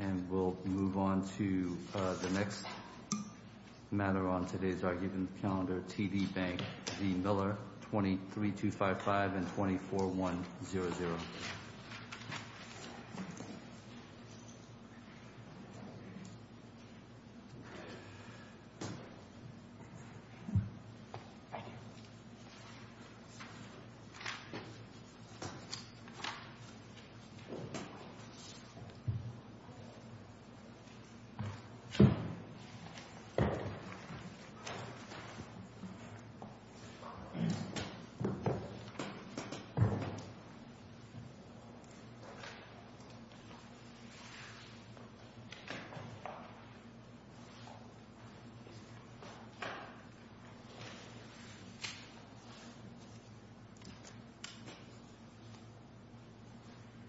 and we'll move on to the next matter on today's argument calendar, T.D. Bank v. Miller, 23255 and 24100.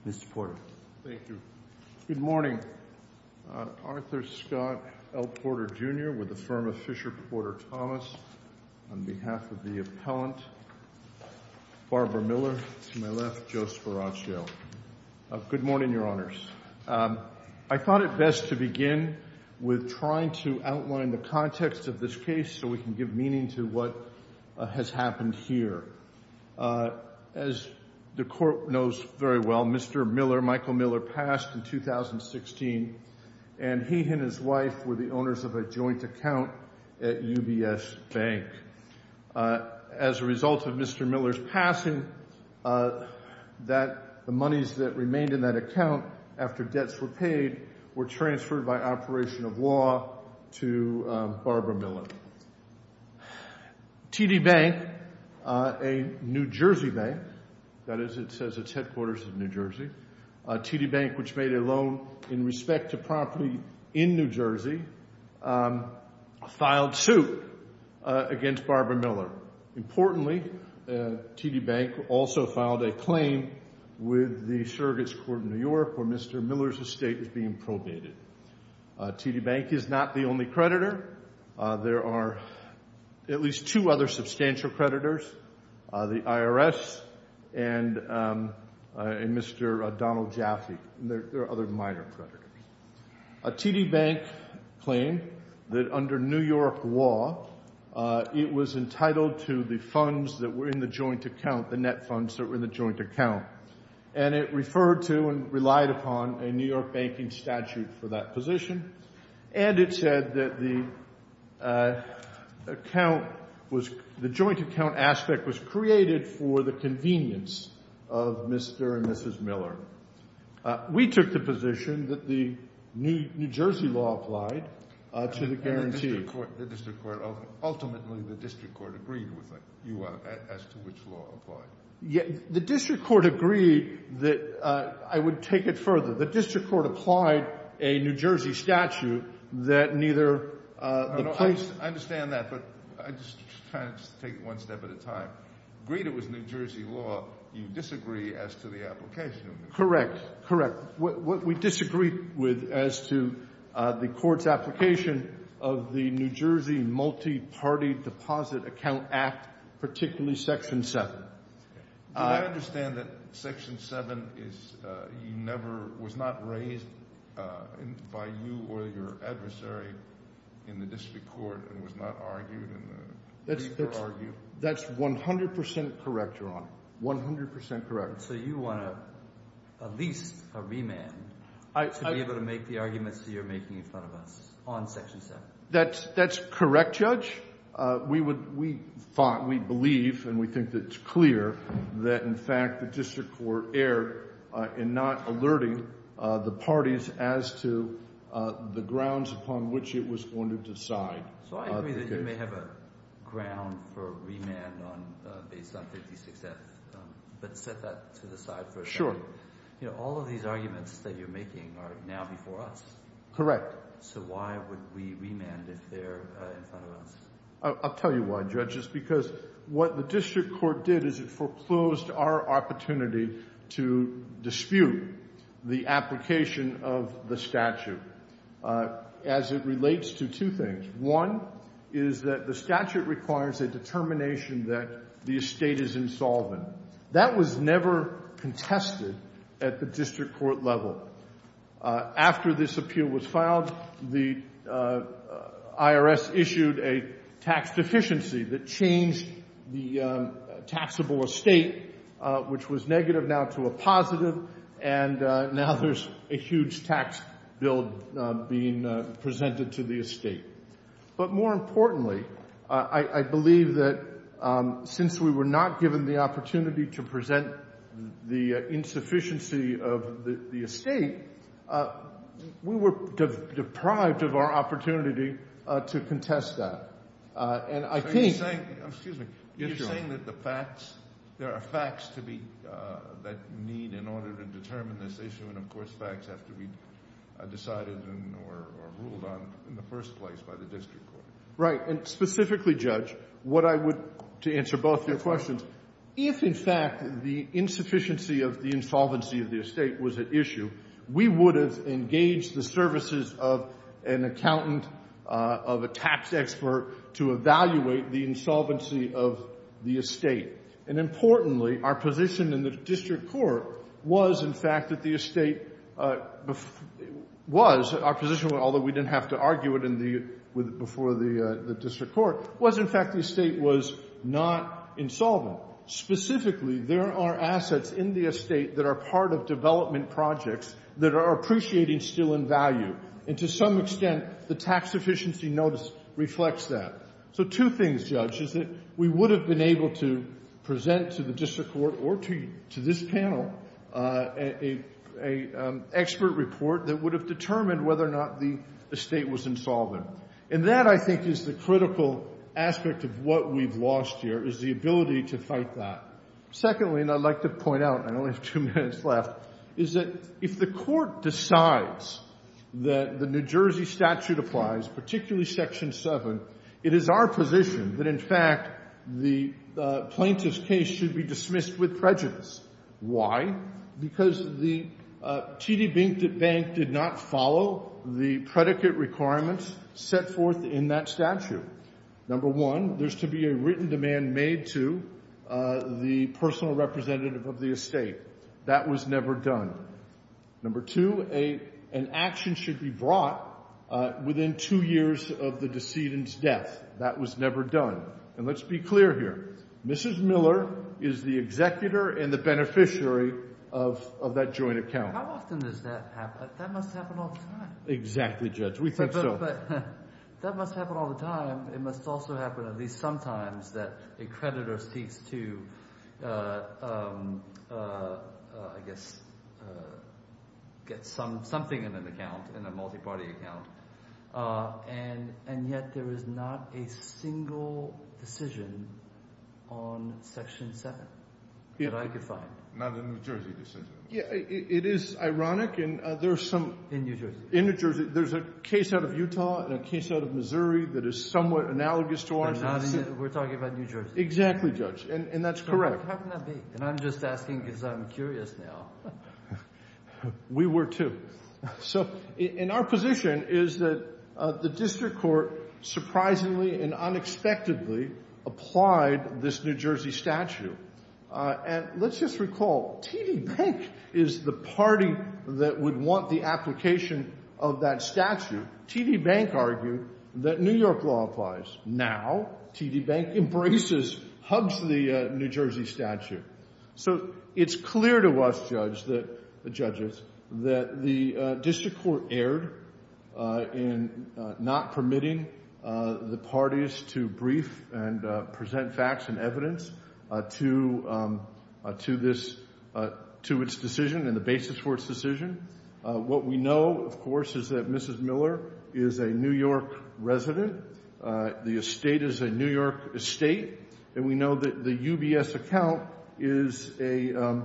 Mr. Porter? Thank you. Good morning. Arthur Scott L. Porter, Jr. with the firm of Fisher Porter Thomas, on behalf of the Miller. To my left, Joe Sparaccio. Good morning, Your Honors. I thought it best to begin with trying to outline the context of this case so we can give meaning to what has happened here. As the court knows very well, Mr. Miller, Michael Miller, passed in 2016 and he and his wife were the owners of a joint account at UBS Bank. As a result of Mr. Miller's passing, the monies that remained in that account after debts were paid were transferred by operation of law to Barbara Miller. T.D. Bank, a New Jersey bank, that is, it says it's headquarters in New Jersey, T.D. Bank, which made a loan in respect to property in New Jersey, filed suit against Barbara Miller. Importantly, T.D. Bank also filed a claim with the surrogates court in New York where Mr. Miller's estate was being probated. T.D. Bank is not the only creditor. There are at least two other substantial creditors, the IRS and Mr. Donald Jaffe. There are other minor creditors. T.D. Bank claimed that under New York law, it was entitled to the funds that were in the joint account, the net funds that were in the joint account. And it referred to and relied upon a New York banking statute for that position. And it said that the account was—the joint account aspect was created for the convenience of Mr. and Mrs. Miller. We took the position that the New Jersey law applied to the guarantee. And the district court—ultimately, the district court agreed with it, as to which law applied. The district court agreed that—I would take it further. The district court applied a New Jersey statute that neither the place— Correct. Correct. What we disagreed with as to the court's application of the New Jersey Multi-Party Deposit Account Act, particularly Section 7. Do I understand that Section 7 is—you never—was not raised by you or your adversary in the district court and was not argued in the— That's 100 percent correct, Your Honor. 100 percent correct. So you want at least a remand to be able to make the arguments that you're making in front of us on Section 7. That's correct, Judge. We would—we thought, we believe, and we think that it's clear that, in fact, the district court erred in not alerting the parties as to the grounds upon which it was going to decide. So I agree that you may have a ground for remand on—based on 56F, but set that to the side for a second. Sure. You know, all of these arguments that you're making are now before us. Correct. So why would we remand if they're in front of us? I'll tell you why, Judges, because what the district court did is it foreclosed our opportunity to dispute the application of the statute as it relates to two things. One is that the statute requires a determination that the estate is insolvent. That was never contested at the district court level. After this appeal was filed, the IRS issued a tax deficiency that changed the taxable estate, which was negative now to a positive, and now there's a huge tax bill being presented to the estate. But more importantly, I believe that since we were not given the opportunity to present the insufficiency of the estate, we were deprived of our opportunity to contest that. So you're saying—excuse me—you're saying that the facts—there are facts to be—that need in order to determine this issue, and, of course, facts have to be decided or ruled on in the first place by the district court. Right. And specifically, Judge, what I would—to answer both your questions— That's right. If, in fact, the insufficiency of the insolvency of the estate was at issue, we would have engaged the services of an accountant, of a tax expert, to evaluate the insolvency of the estate. And importantly, our position in the district court was, in fact, that the estate was—our position, although we didn't have to argue it in the—before the district court—was, in fact, the estate was not insolvent. Specifically, there are assets in the estate that are part of development projects that are appreciating still in value. And to some extent, the tax efficiency notice reflects that. So two things, Judge, is that we would have been able to present to the district court or to this panel an expert report that would have determined whether or not the estate was insolvent. And that, I think, is the critical aspect of what we've lost here, is the ability to fight that. Secondly, and I'd like to point out—and I only have two minutes left—is that if the court decides that the New Jersey statute applies, particularly Section 7, it is our position that, in fact, the plaintiff's case should be dismissed with prejudice. Why? Because the TD Bank did not follow the predicate requirements set forth in that statute. Number one, there's to be a written demand made to the personal representative of the estate. That was never done. Number two, an action should be brought within two years of the decedent's death. That was never done. And let's be clear here. Mrs. Miller is the executor and the beneficiary of that joint account. How often does that happen? That must happen all the time. Exactly, Judge. We think so. But that must happen all the time. It must also happen at least sometimes that a creditor seeks to, I guess, get something in an account, in a multiparty account. And yet there is not a single decision on Section 7 that I could find. Not a New Jersey decision. It is ironic. In New Jersey. In New Jersey. There's a case out of Utah and a case out of Missouri that is somewhat analogous to ours. We're talking about New Jersey. Exactly, Judge. And that's correct. How can that be? And I'm just asking because I'm curious now. We were too. So in our position is that the district court surprisingly and unexpectedly applied this New Jersey statute. And let's just recall, TD Bank is the party that would want the application of that statute. TD Bank argued that New York law applies. Now TD Bank embraces, hugs the New Jersey statute. So it's clear to us judges that the district court erred in not permitting the parties to brief and present facts and evidence to its decision and the basis for its decision. What we know, of course, is that Mrs. Miller is a New York resident. The estate is a New York estate. And we know that the UBS account is a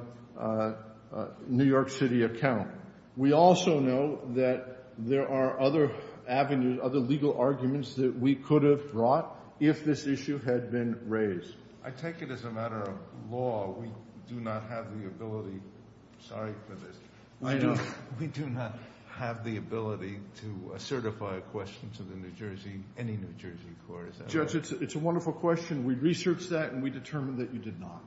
New York City account. We also know that there are other avenues, other legal arguments that we could have brought if this issue had been raised. I take it as a matter of law. We do not have the ability. Sorry for this. We do not have the ability to certify a question to the New Jersey, any New Jersey court. Judge, it's a wonderful question. We researched that and we determined that you did not.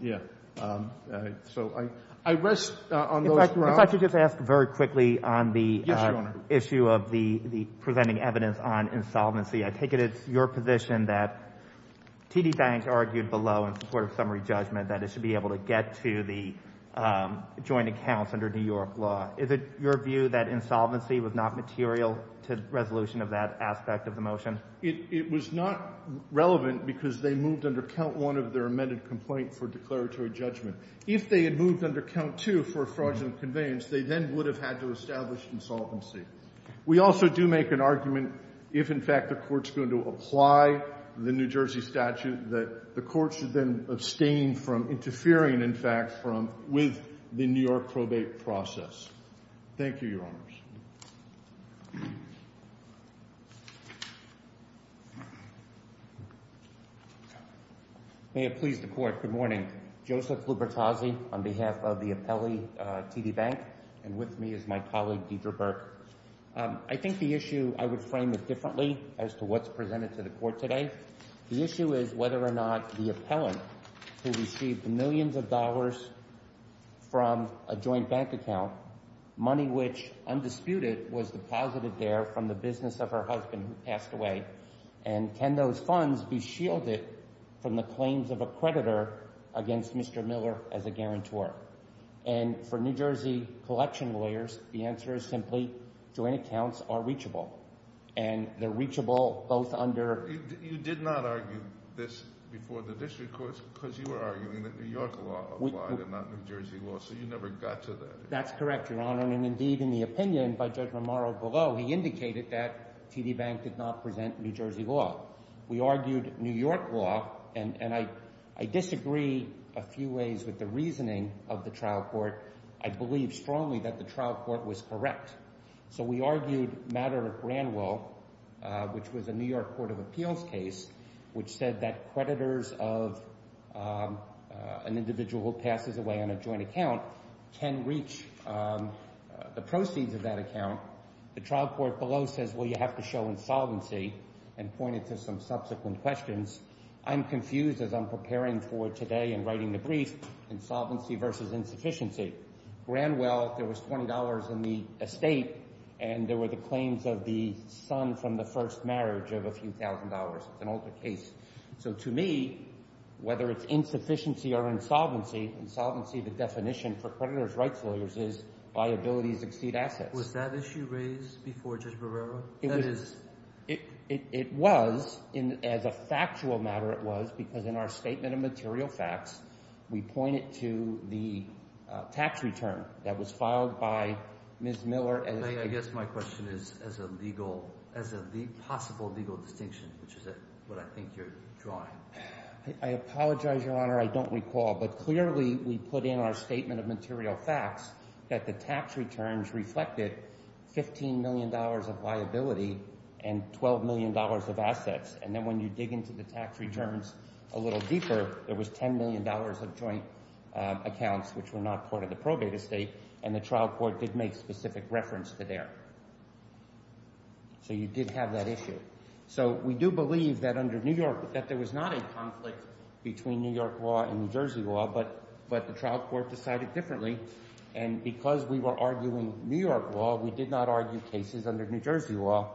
Yeah. Yeah. So I rest on those grounds. If I could just ask very quickly on the issue of the presenting evidence on insolvency. I take it it's your position that TD Bank argued below in support of summary judgment that it should be able to get to the joint accounts under New York law. Is it your view that insolvency was not material to resolution of that aspect of the motion? It was not relevant because they moved under count one of their amended complaint for declaratory judgment. If they had moved under count two for fraudulent conveyance, they then would have had to establish insolvency. We also do make an argument if, in fact, the court's going to apply the New Jersey statute that the court should then abstain from interfering, in fact, with the New York probate process. Thank you, Your Honors. May it please the Court. Good morning. Joseph Lubertazzi on behalf of the appellee, TD Bank, and with me is my colleague, Deidre Burke. I think the issue, I would frame it differently as to what's presented to the Court today. The issue is whether or not the appellant who received millions of dollars from a joint bank account, money which, undisputed, was deposited there from the business of her husband who passed away, and can those funds be shielded from the claims of a creditor against Mr. Miller as a guarantor? And for New Jersey collection lawyers, the answer is simply joint accounts are reachable. And they're reachable both under… You did not argue this before the district courts because you were arguing that New York law applied and not New Jersey law, so you never got to that. That's correct, Your Honor, and indeed, in the opinion by Judge Romaro below, he indicated that TD Bank did not present New Jersey law. We argued New York law, and I disagree a few ways with the reasoning of the trial court. I believe strongly that the trial court was correct. So we argued a matter at Granwell, which was a New York court of appeals case, which said that creditors of an individual who passes away on a joint account can reach the proceeds of that account. The trial court below says, well, you have to show insolvency and pointed to some subsequent questions. I'm confused as I'm preparing for today and writing the brief, insolvency versus insufficiency. Granwell, there was $20 in the estate, and there were the claims of the son from the first marriage of a few thousand dollars. It's an older case. So to me, whether it's insufficiency or insolvency, insolvency, the definition for creditors' rights lawyers is liabilities exceed assets. Was that issue raised before Judge Romaro? It was. As a factual matter, it was, because in our statement of material facts, we point it to the tax return that was filed by Ms. Miller. I guess my question is as a legal – as a possible legal distinction, which is what I think you're drawing. I apologize, Your Honor. I don't recall, but clearly we put in our statement of material facts that the tax returns reflected $15 million of liability and $12 million of assets. And then when you dig into the tax returns a little deeper, there was $10 million of joint accounts, which were not part of the probate estate, and the trial court did make specific reference to there. So you did have that issue. So we do believe that under New York – that there was not a conflict between New York law and New Jersey law, but the trial court decided differently. And because we were arguing New York law, we did not argue cases under New Jersey law,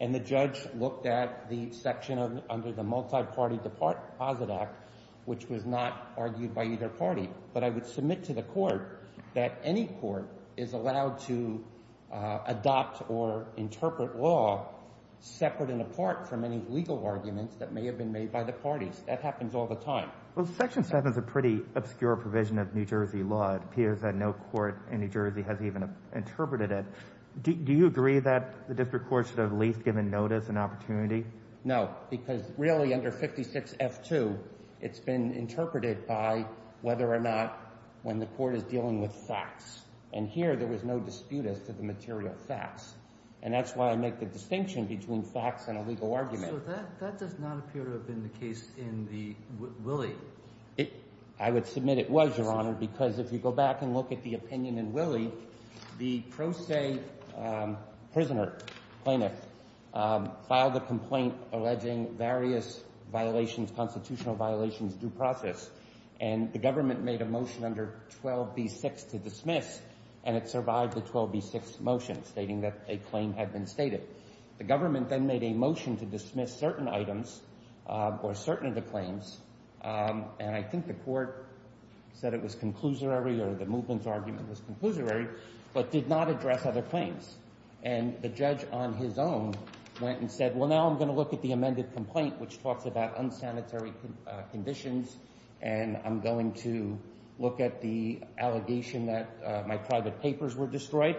and the judge looked at the section under the Multiparty Deposit Act, which was not argued by either party. But I would submit to the court that any court is allowed to adopt or interpret law separate and apart from any legal arguments that may have been made by the parties. That happens all the time. Well, Section 7 is a pretty obscure provision of New Jersey law. It appears that no court in New Jersey has even interpreted it. Do you agree that the district court should have at least given notice and opportunity? No, because really under 56F2, it's been interpreted by whether or not when the court is dealing with facts. And here there was no dispute as to the material facts, and that's why I make the distinction between facts and a legal argument. So that does not appear to have been the case in the – Willie. I would submit it was, Your Honor, because if you go back and look at the opinion in Willie, the pro se prisoner, plaintiff, filed a complaint alleging various violations, constitutional violations, due process. And the government made a motion under 12B6 to dismiss, and it survived the 12B6 motion stating that a claim had been stated. The government then made a motion to dismiss certain items or certain of the claims, and I think the court said it was conclusory or the movement's argument was conclusory, but did not address other claims. And the judge on his own went and said, well, now I'm going to look at the amended complaint, which talks about unsanitary conditions, and I'm going to look at the allegation that my private papers were destroyed.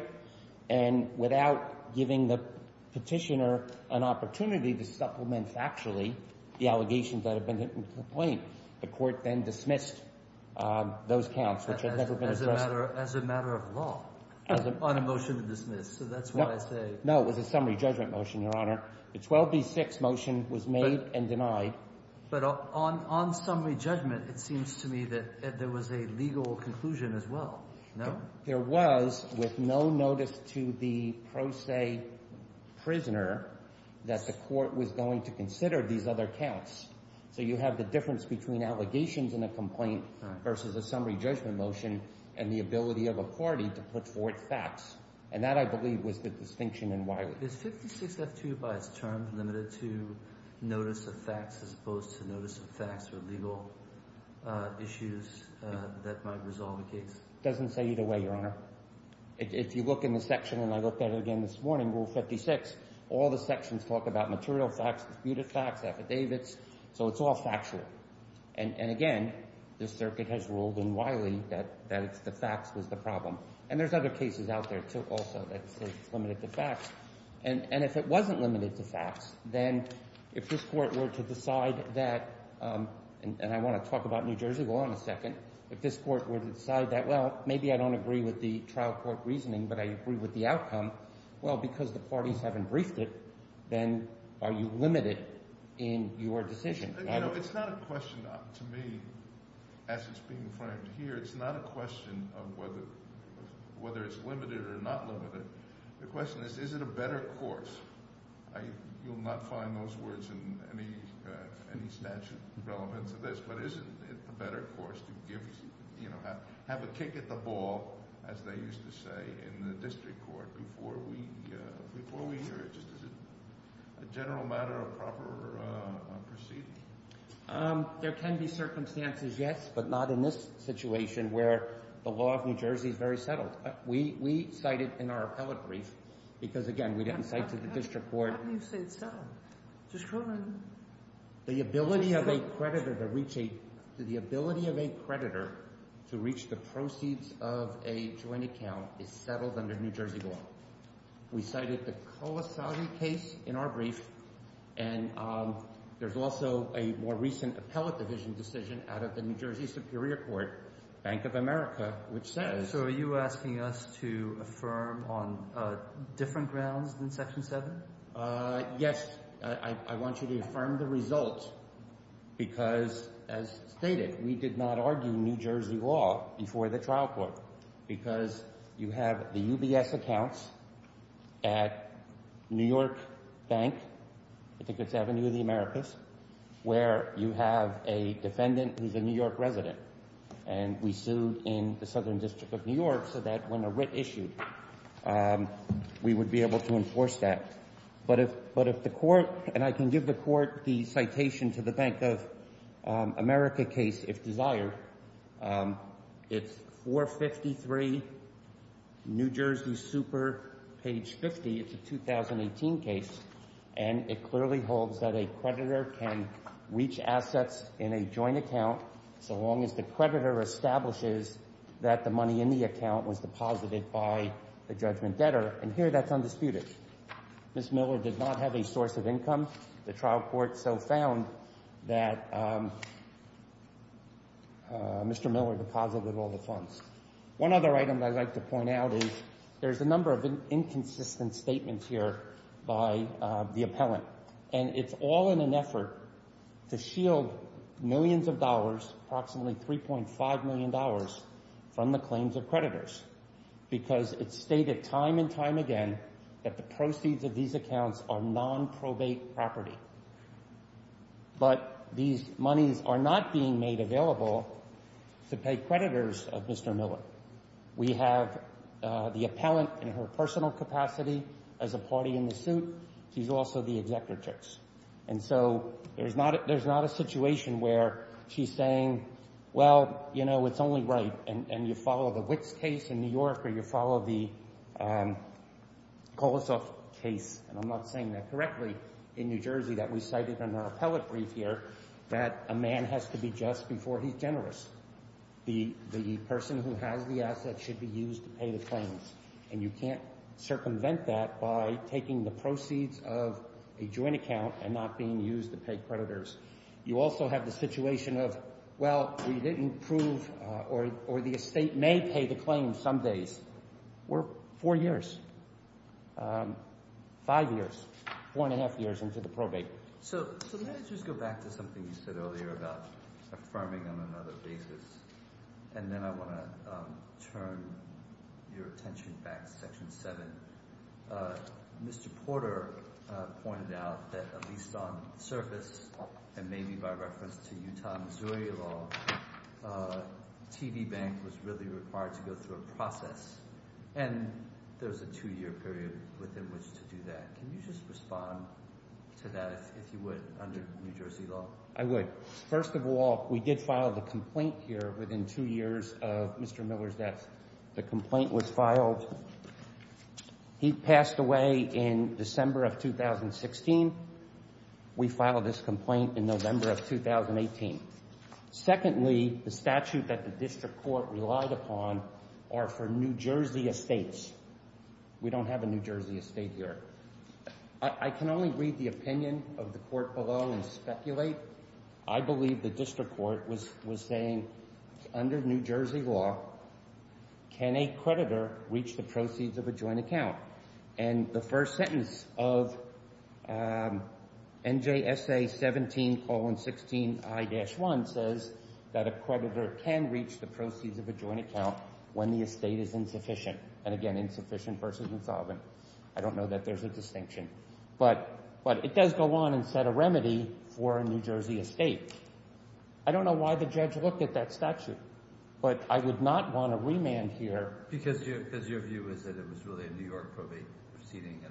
And without giving the petitioner an opportunity to supplement factually the allegations that have been in the complaint, the court then dismissed those counts, which had never been addressed. As a matter of law, on a motion to dismiss, so that's what I say. No, it was a summary judgment motion, Your Honor. The 12B6 motion was made and denied. But on summary judgment, it seems to me that there was a legal conclusion as well, no? There was, with no notice to the pro se prisoner that the court was going to consider these other counts. So you have the difference between allegations in a complaint versus a summary judgment motion and the ability of a party to put forth facts, and that, I believe, was the distinction in Wiley. Is 56F2 by its term limited to notice of facts as opposed to notice of facts or legal issues that might resolve a case? It doesn't say either way, Your Honor. If you look in the section, and I looked at it again this morning, Rule 56, all the sections talk about material facts, disputed facts, affidavits, so it's all factual. And again, the circuit has ruled in Wiley that the facts was the problem. And there's other cases out there also that say it's limited to facts. And if it wasn't limited to facts, then if this court were to decide that, and I want to talk about New Jersey, go on a second. If this court were to decide that, well, maybe I don't agree with the trial court reasoning, but I agree with the outcome, well, because the parties haven't briefed it, then are you limited in your decision? It's not a question, to me, as it's being framed here, it's not a question of whether it's limited or not limited. The question is, is it a better course? There can be circumstances, yes, but not in this situation where the law of New Jersey is very settled. We cited in our appellate brief, because, again, we didn't cite to the district court. How can you say it's settled? Judge Cronin. The ability of a creditor to reach a – the ability of a creditor to reach the proceeds of a joint account is settled under New Jersey law. We cited the Colasage case in our brief, and there's also a more recent appellate division decision out of the New Jersey Superior Court, Bank of America, which says – So are you asking us to affirm on different grounds than Section 7? Yes. I want you to affirm the result because, as stated, we did not argue New Jersey law before the trial court because you have the UBS accounts at New York Bank, I think it's Avenue of the Americas, where you have a defendant who's a New York resident, and we sued in the Southern District of New York so that when a writ issued, we would be able to enforce that. But if the court – and I can give the court the citation to the Bank of America case if desired. It's 453 New Jersey Super, page 50. It's a 2018 case, and it clearly holds that a creditor can reach assets in a joint account so long as the creditor establishes that the money in the account was deposited by the judgment debtor. And here that's undisputed. Ms. Miller did not have a source of income. The trial court so found that Mr. Miller deposited all the funds. One other item I'd like to point out is there's a number of inconsistent statements here by the appellant, and it's all in an effort to shield millions of dollars, approximately $3.5 million, from the claims of creditors because it's stated time and time again that the proceeds of these accounts are nonprobate property. But these monies are not being made available to pay creditors of Mr. Miller. We have the appellant in her personal capacity as a party in the suit. She's also the executor. And so there's not a situation where she's saying, well, you know, it's only right. And you follow the Witts case in New York, or you follow the Kolosoff case, and I'm not saying that correctly, in New Jersey that we cited in our appellate brief here, that a man has to be just before he's generous. The person who has the assets should be used to pay the claims. And you can't circumvent that by taking the proceeds of a joint account and not being used to pay creditors. You also have the situation of, well, we didn't prove or the estate may pay the claims some days. We're four years, five years, four and a half years into the probate. So let me just go back to something you said earlier about affirming on another basis, and then I want to turn your attention back to Section 7. Mr. Porter pointed out that at least on the surface and maybe by reference to Utah, Missouri law, TV bank was really required to go through a process. And there's a two-year period within which to do that. Can you just respond to that, if you would, under New Jersey law? I would. First of all, we did file the complaint here within two years of Mr. Miller's death. The complaint was filed. He passed away in December of 2016. We filed this complaint in November of 2018. Secondly, the statute that the district court relied upon are for New Jersey estates. We don't have a New Jersey estate here. I can only read the opinion of the court below and speculate. I believe the district court was saying under New Jersey law, can a creditor reach the proceeds of a joint account? And the first sentence of NJSA 17,16i-1 says that a creditor can reach the proceeds of a joint account when the estate is insufficient. And again, insufficient versus insolvent. I don't know that there's a distinction. But it does go on and set a remedy for a New Jersey estate. I don't know why the judge looked at that statute, but I would not want to remand here. Because your view is that it was really a New York probate proceeding.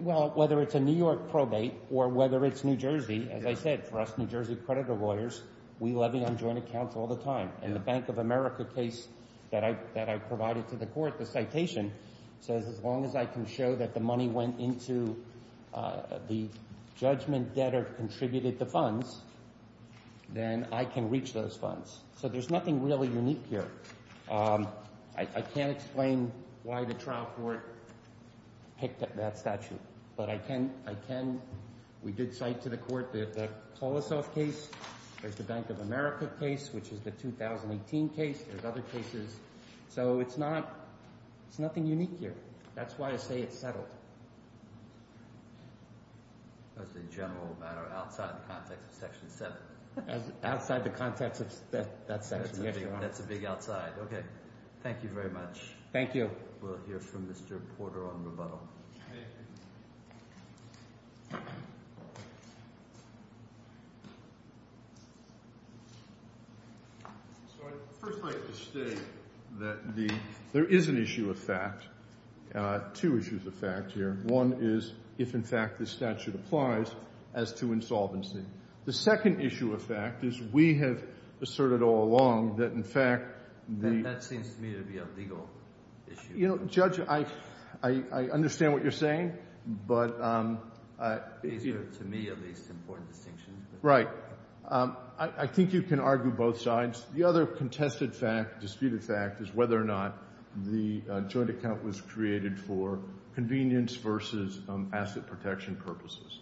Well, whether it's a New York probate or whether it's New Jersey, as I said, for us New Jersey creditor lawyers, we levy on joint accounts all the time. In the Bank of America case that I provided to the court, the citation says as long as I can show that the money went into the judgment debtor contributed the funds, then I can reach those funds. So there's nothing really unique here. I can't explain why the trial court picked up that statute. But I can – we did cite to the court the Kolosov case. There's the Bank of America case, which is the 2018 case. There's other cases. So it's not – it's nothing unique here. That's why I say it's settled. That's a general matter outside the context of Section 7. Outside the context of that section. That's a big outside. Okay. Thank you very much. Thank you. We'll hear from Mr. Porter on rebuttal. Thank you. So I'd first like to state that the – there is an issue of fact – two issues of fact here. One is if, in fact, this statute applies as to insolvency. The second issue of fact is we have asserted all along that, in fact, the – That seems to me to be a legal issue. Judge, I understand what you're saying, but – These are, to me at least, important distinctions. Right. I think you can argue both sides. The other contested fact, disputed fact, is whether or not the joint account was created for convenience versus asset protection purposes.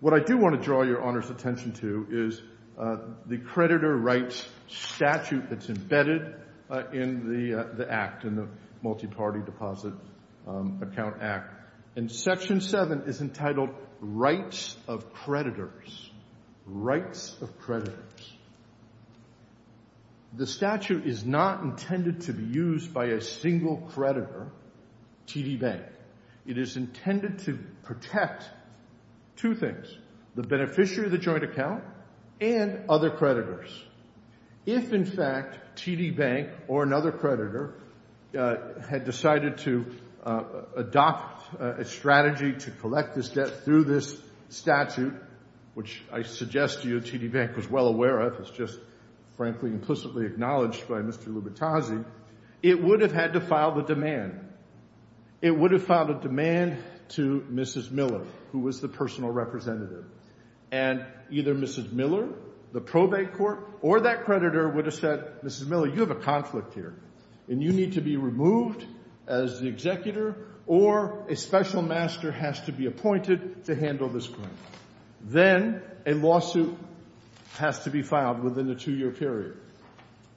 What I do want to draw Your Honor's attention to is the creditor rights statute that's embedded in the act, in the Multi-Party Deposit Account Act. And Section 7 is entitled Rights of Creditors. Rights of Creditors. The statute is not intended to be used by a single creditor, TD Bank. It is intended to protect two things, the beneficiary of the joint account and other creditors. If, in fact, TD Bank or another creditor had decided to adopt a strategy to collect this debt through this statute, which I suggest to you TD Bank was well aware of, it's just frankly implicitly acknowledged by Mr. Lubitazzi, it would have had to file the demand. It would have filed a demand to Mrs. Miller, who was the personal representative. And either Mrs. Miller, the probate court, or that creditor would have said, Mrs. Miller, you have a conflict here and you need to be removed as the executor or a special master has to be appointed to handle this claim. Then a lawsuit has to be filed within a two-year period.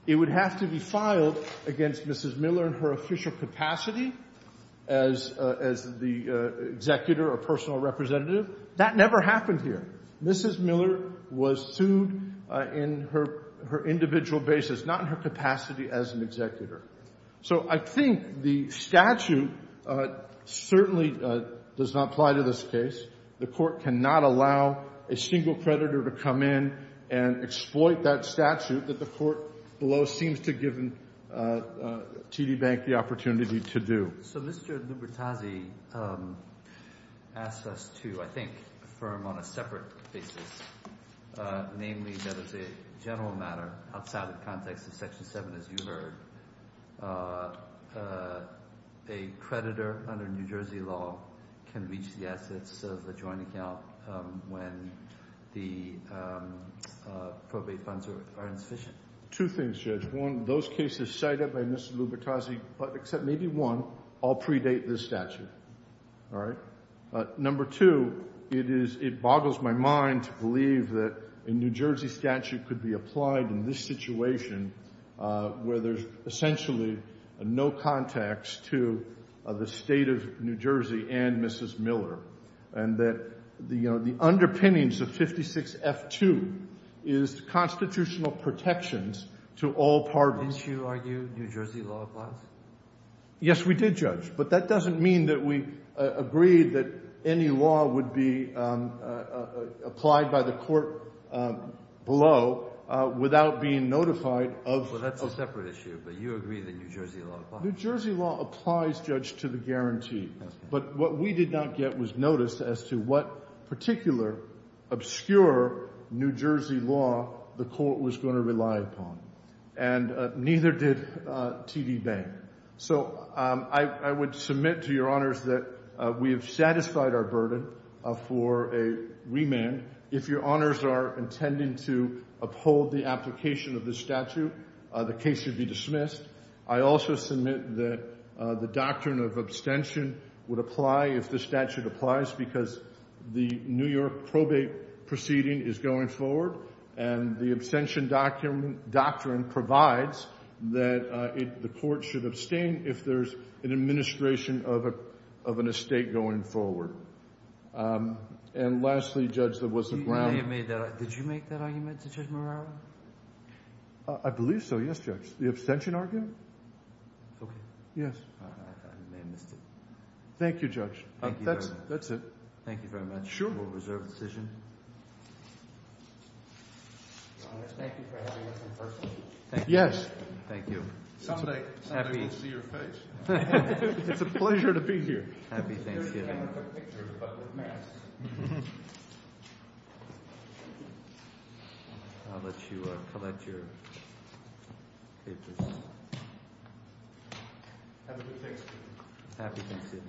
It would have to be filed against Mrs. Miller in her official capacity as the executor or personal representative. That never happened here. Mrs. Miller was sued in her individual basis, not in her capacity as an executor. So I think the statute certainly does not apply to this case. The court cannot allow a single creditor to come in and exploit that statute that the court below seems to give TD Bank the opportunity to do. So Mr. Lubitazzi asked us to, I think, affirm on a separate basis, namely that as a general matter, outside the context of Section 7, as you heard, a creditor under New Jersey law can reach the assets of a joint account when the probate funds are insufficient. Two things, Judge. One, those cases cited by Mr. Lubitazzi, except maybe one, all predate this statute. All right? Number two, it boggles my mind to believe that a New Jersey statute could be applied in this situation where there's essentially no context to the State of New Jersey and Mrs. Miller, and that the underpinnings of 56F2 is constitutional protections to all parties. Didn't you argue New Jersey law applies? Yes, we did, Judge. But that doesn't mean that we agreed that any law would be applied by the court below without being notified of— Well, that's a separate issue, but you agree that New Jersey law applies. New Jersey law applies, Judge, to the guarantee. But what we did not get was notice as to what particular obscure New Jersey law the court was going to rely upon, and neither did TD Bank. So I would submit to your honors that we have satisfied our burden for a remand. If your honors are intending to uphold the application of this statute, the case should be dismissed. I also submit that the doctrine of abstention would apply if the statute applies because the New York probate proceeding is going forward, and the abstention doctrine provides that the court should abstain if there's an administration of an estate going forward. And lastly, Judge, there was a ground— Did you make that argument, Judge Morano? I believe so, yes, Judge. The abstention argument? Okay. Yes. I may have missed it. Thank you, Judge. Thank you very much. That's it. Thank you very much. Sure. We'll reserve the decision. Your honors, thank you for having us in person. Yes. Thank you. Someday we'll see your face. It's a pleasure to be here. Happy Thanksgiving. The camera took pictures, but with masks. I'll let you collect your papers. Have a good Thanksgiving. Happy Thanksgiving.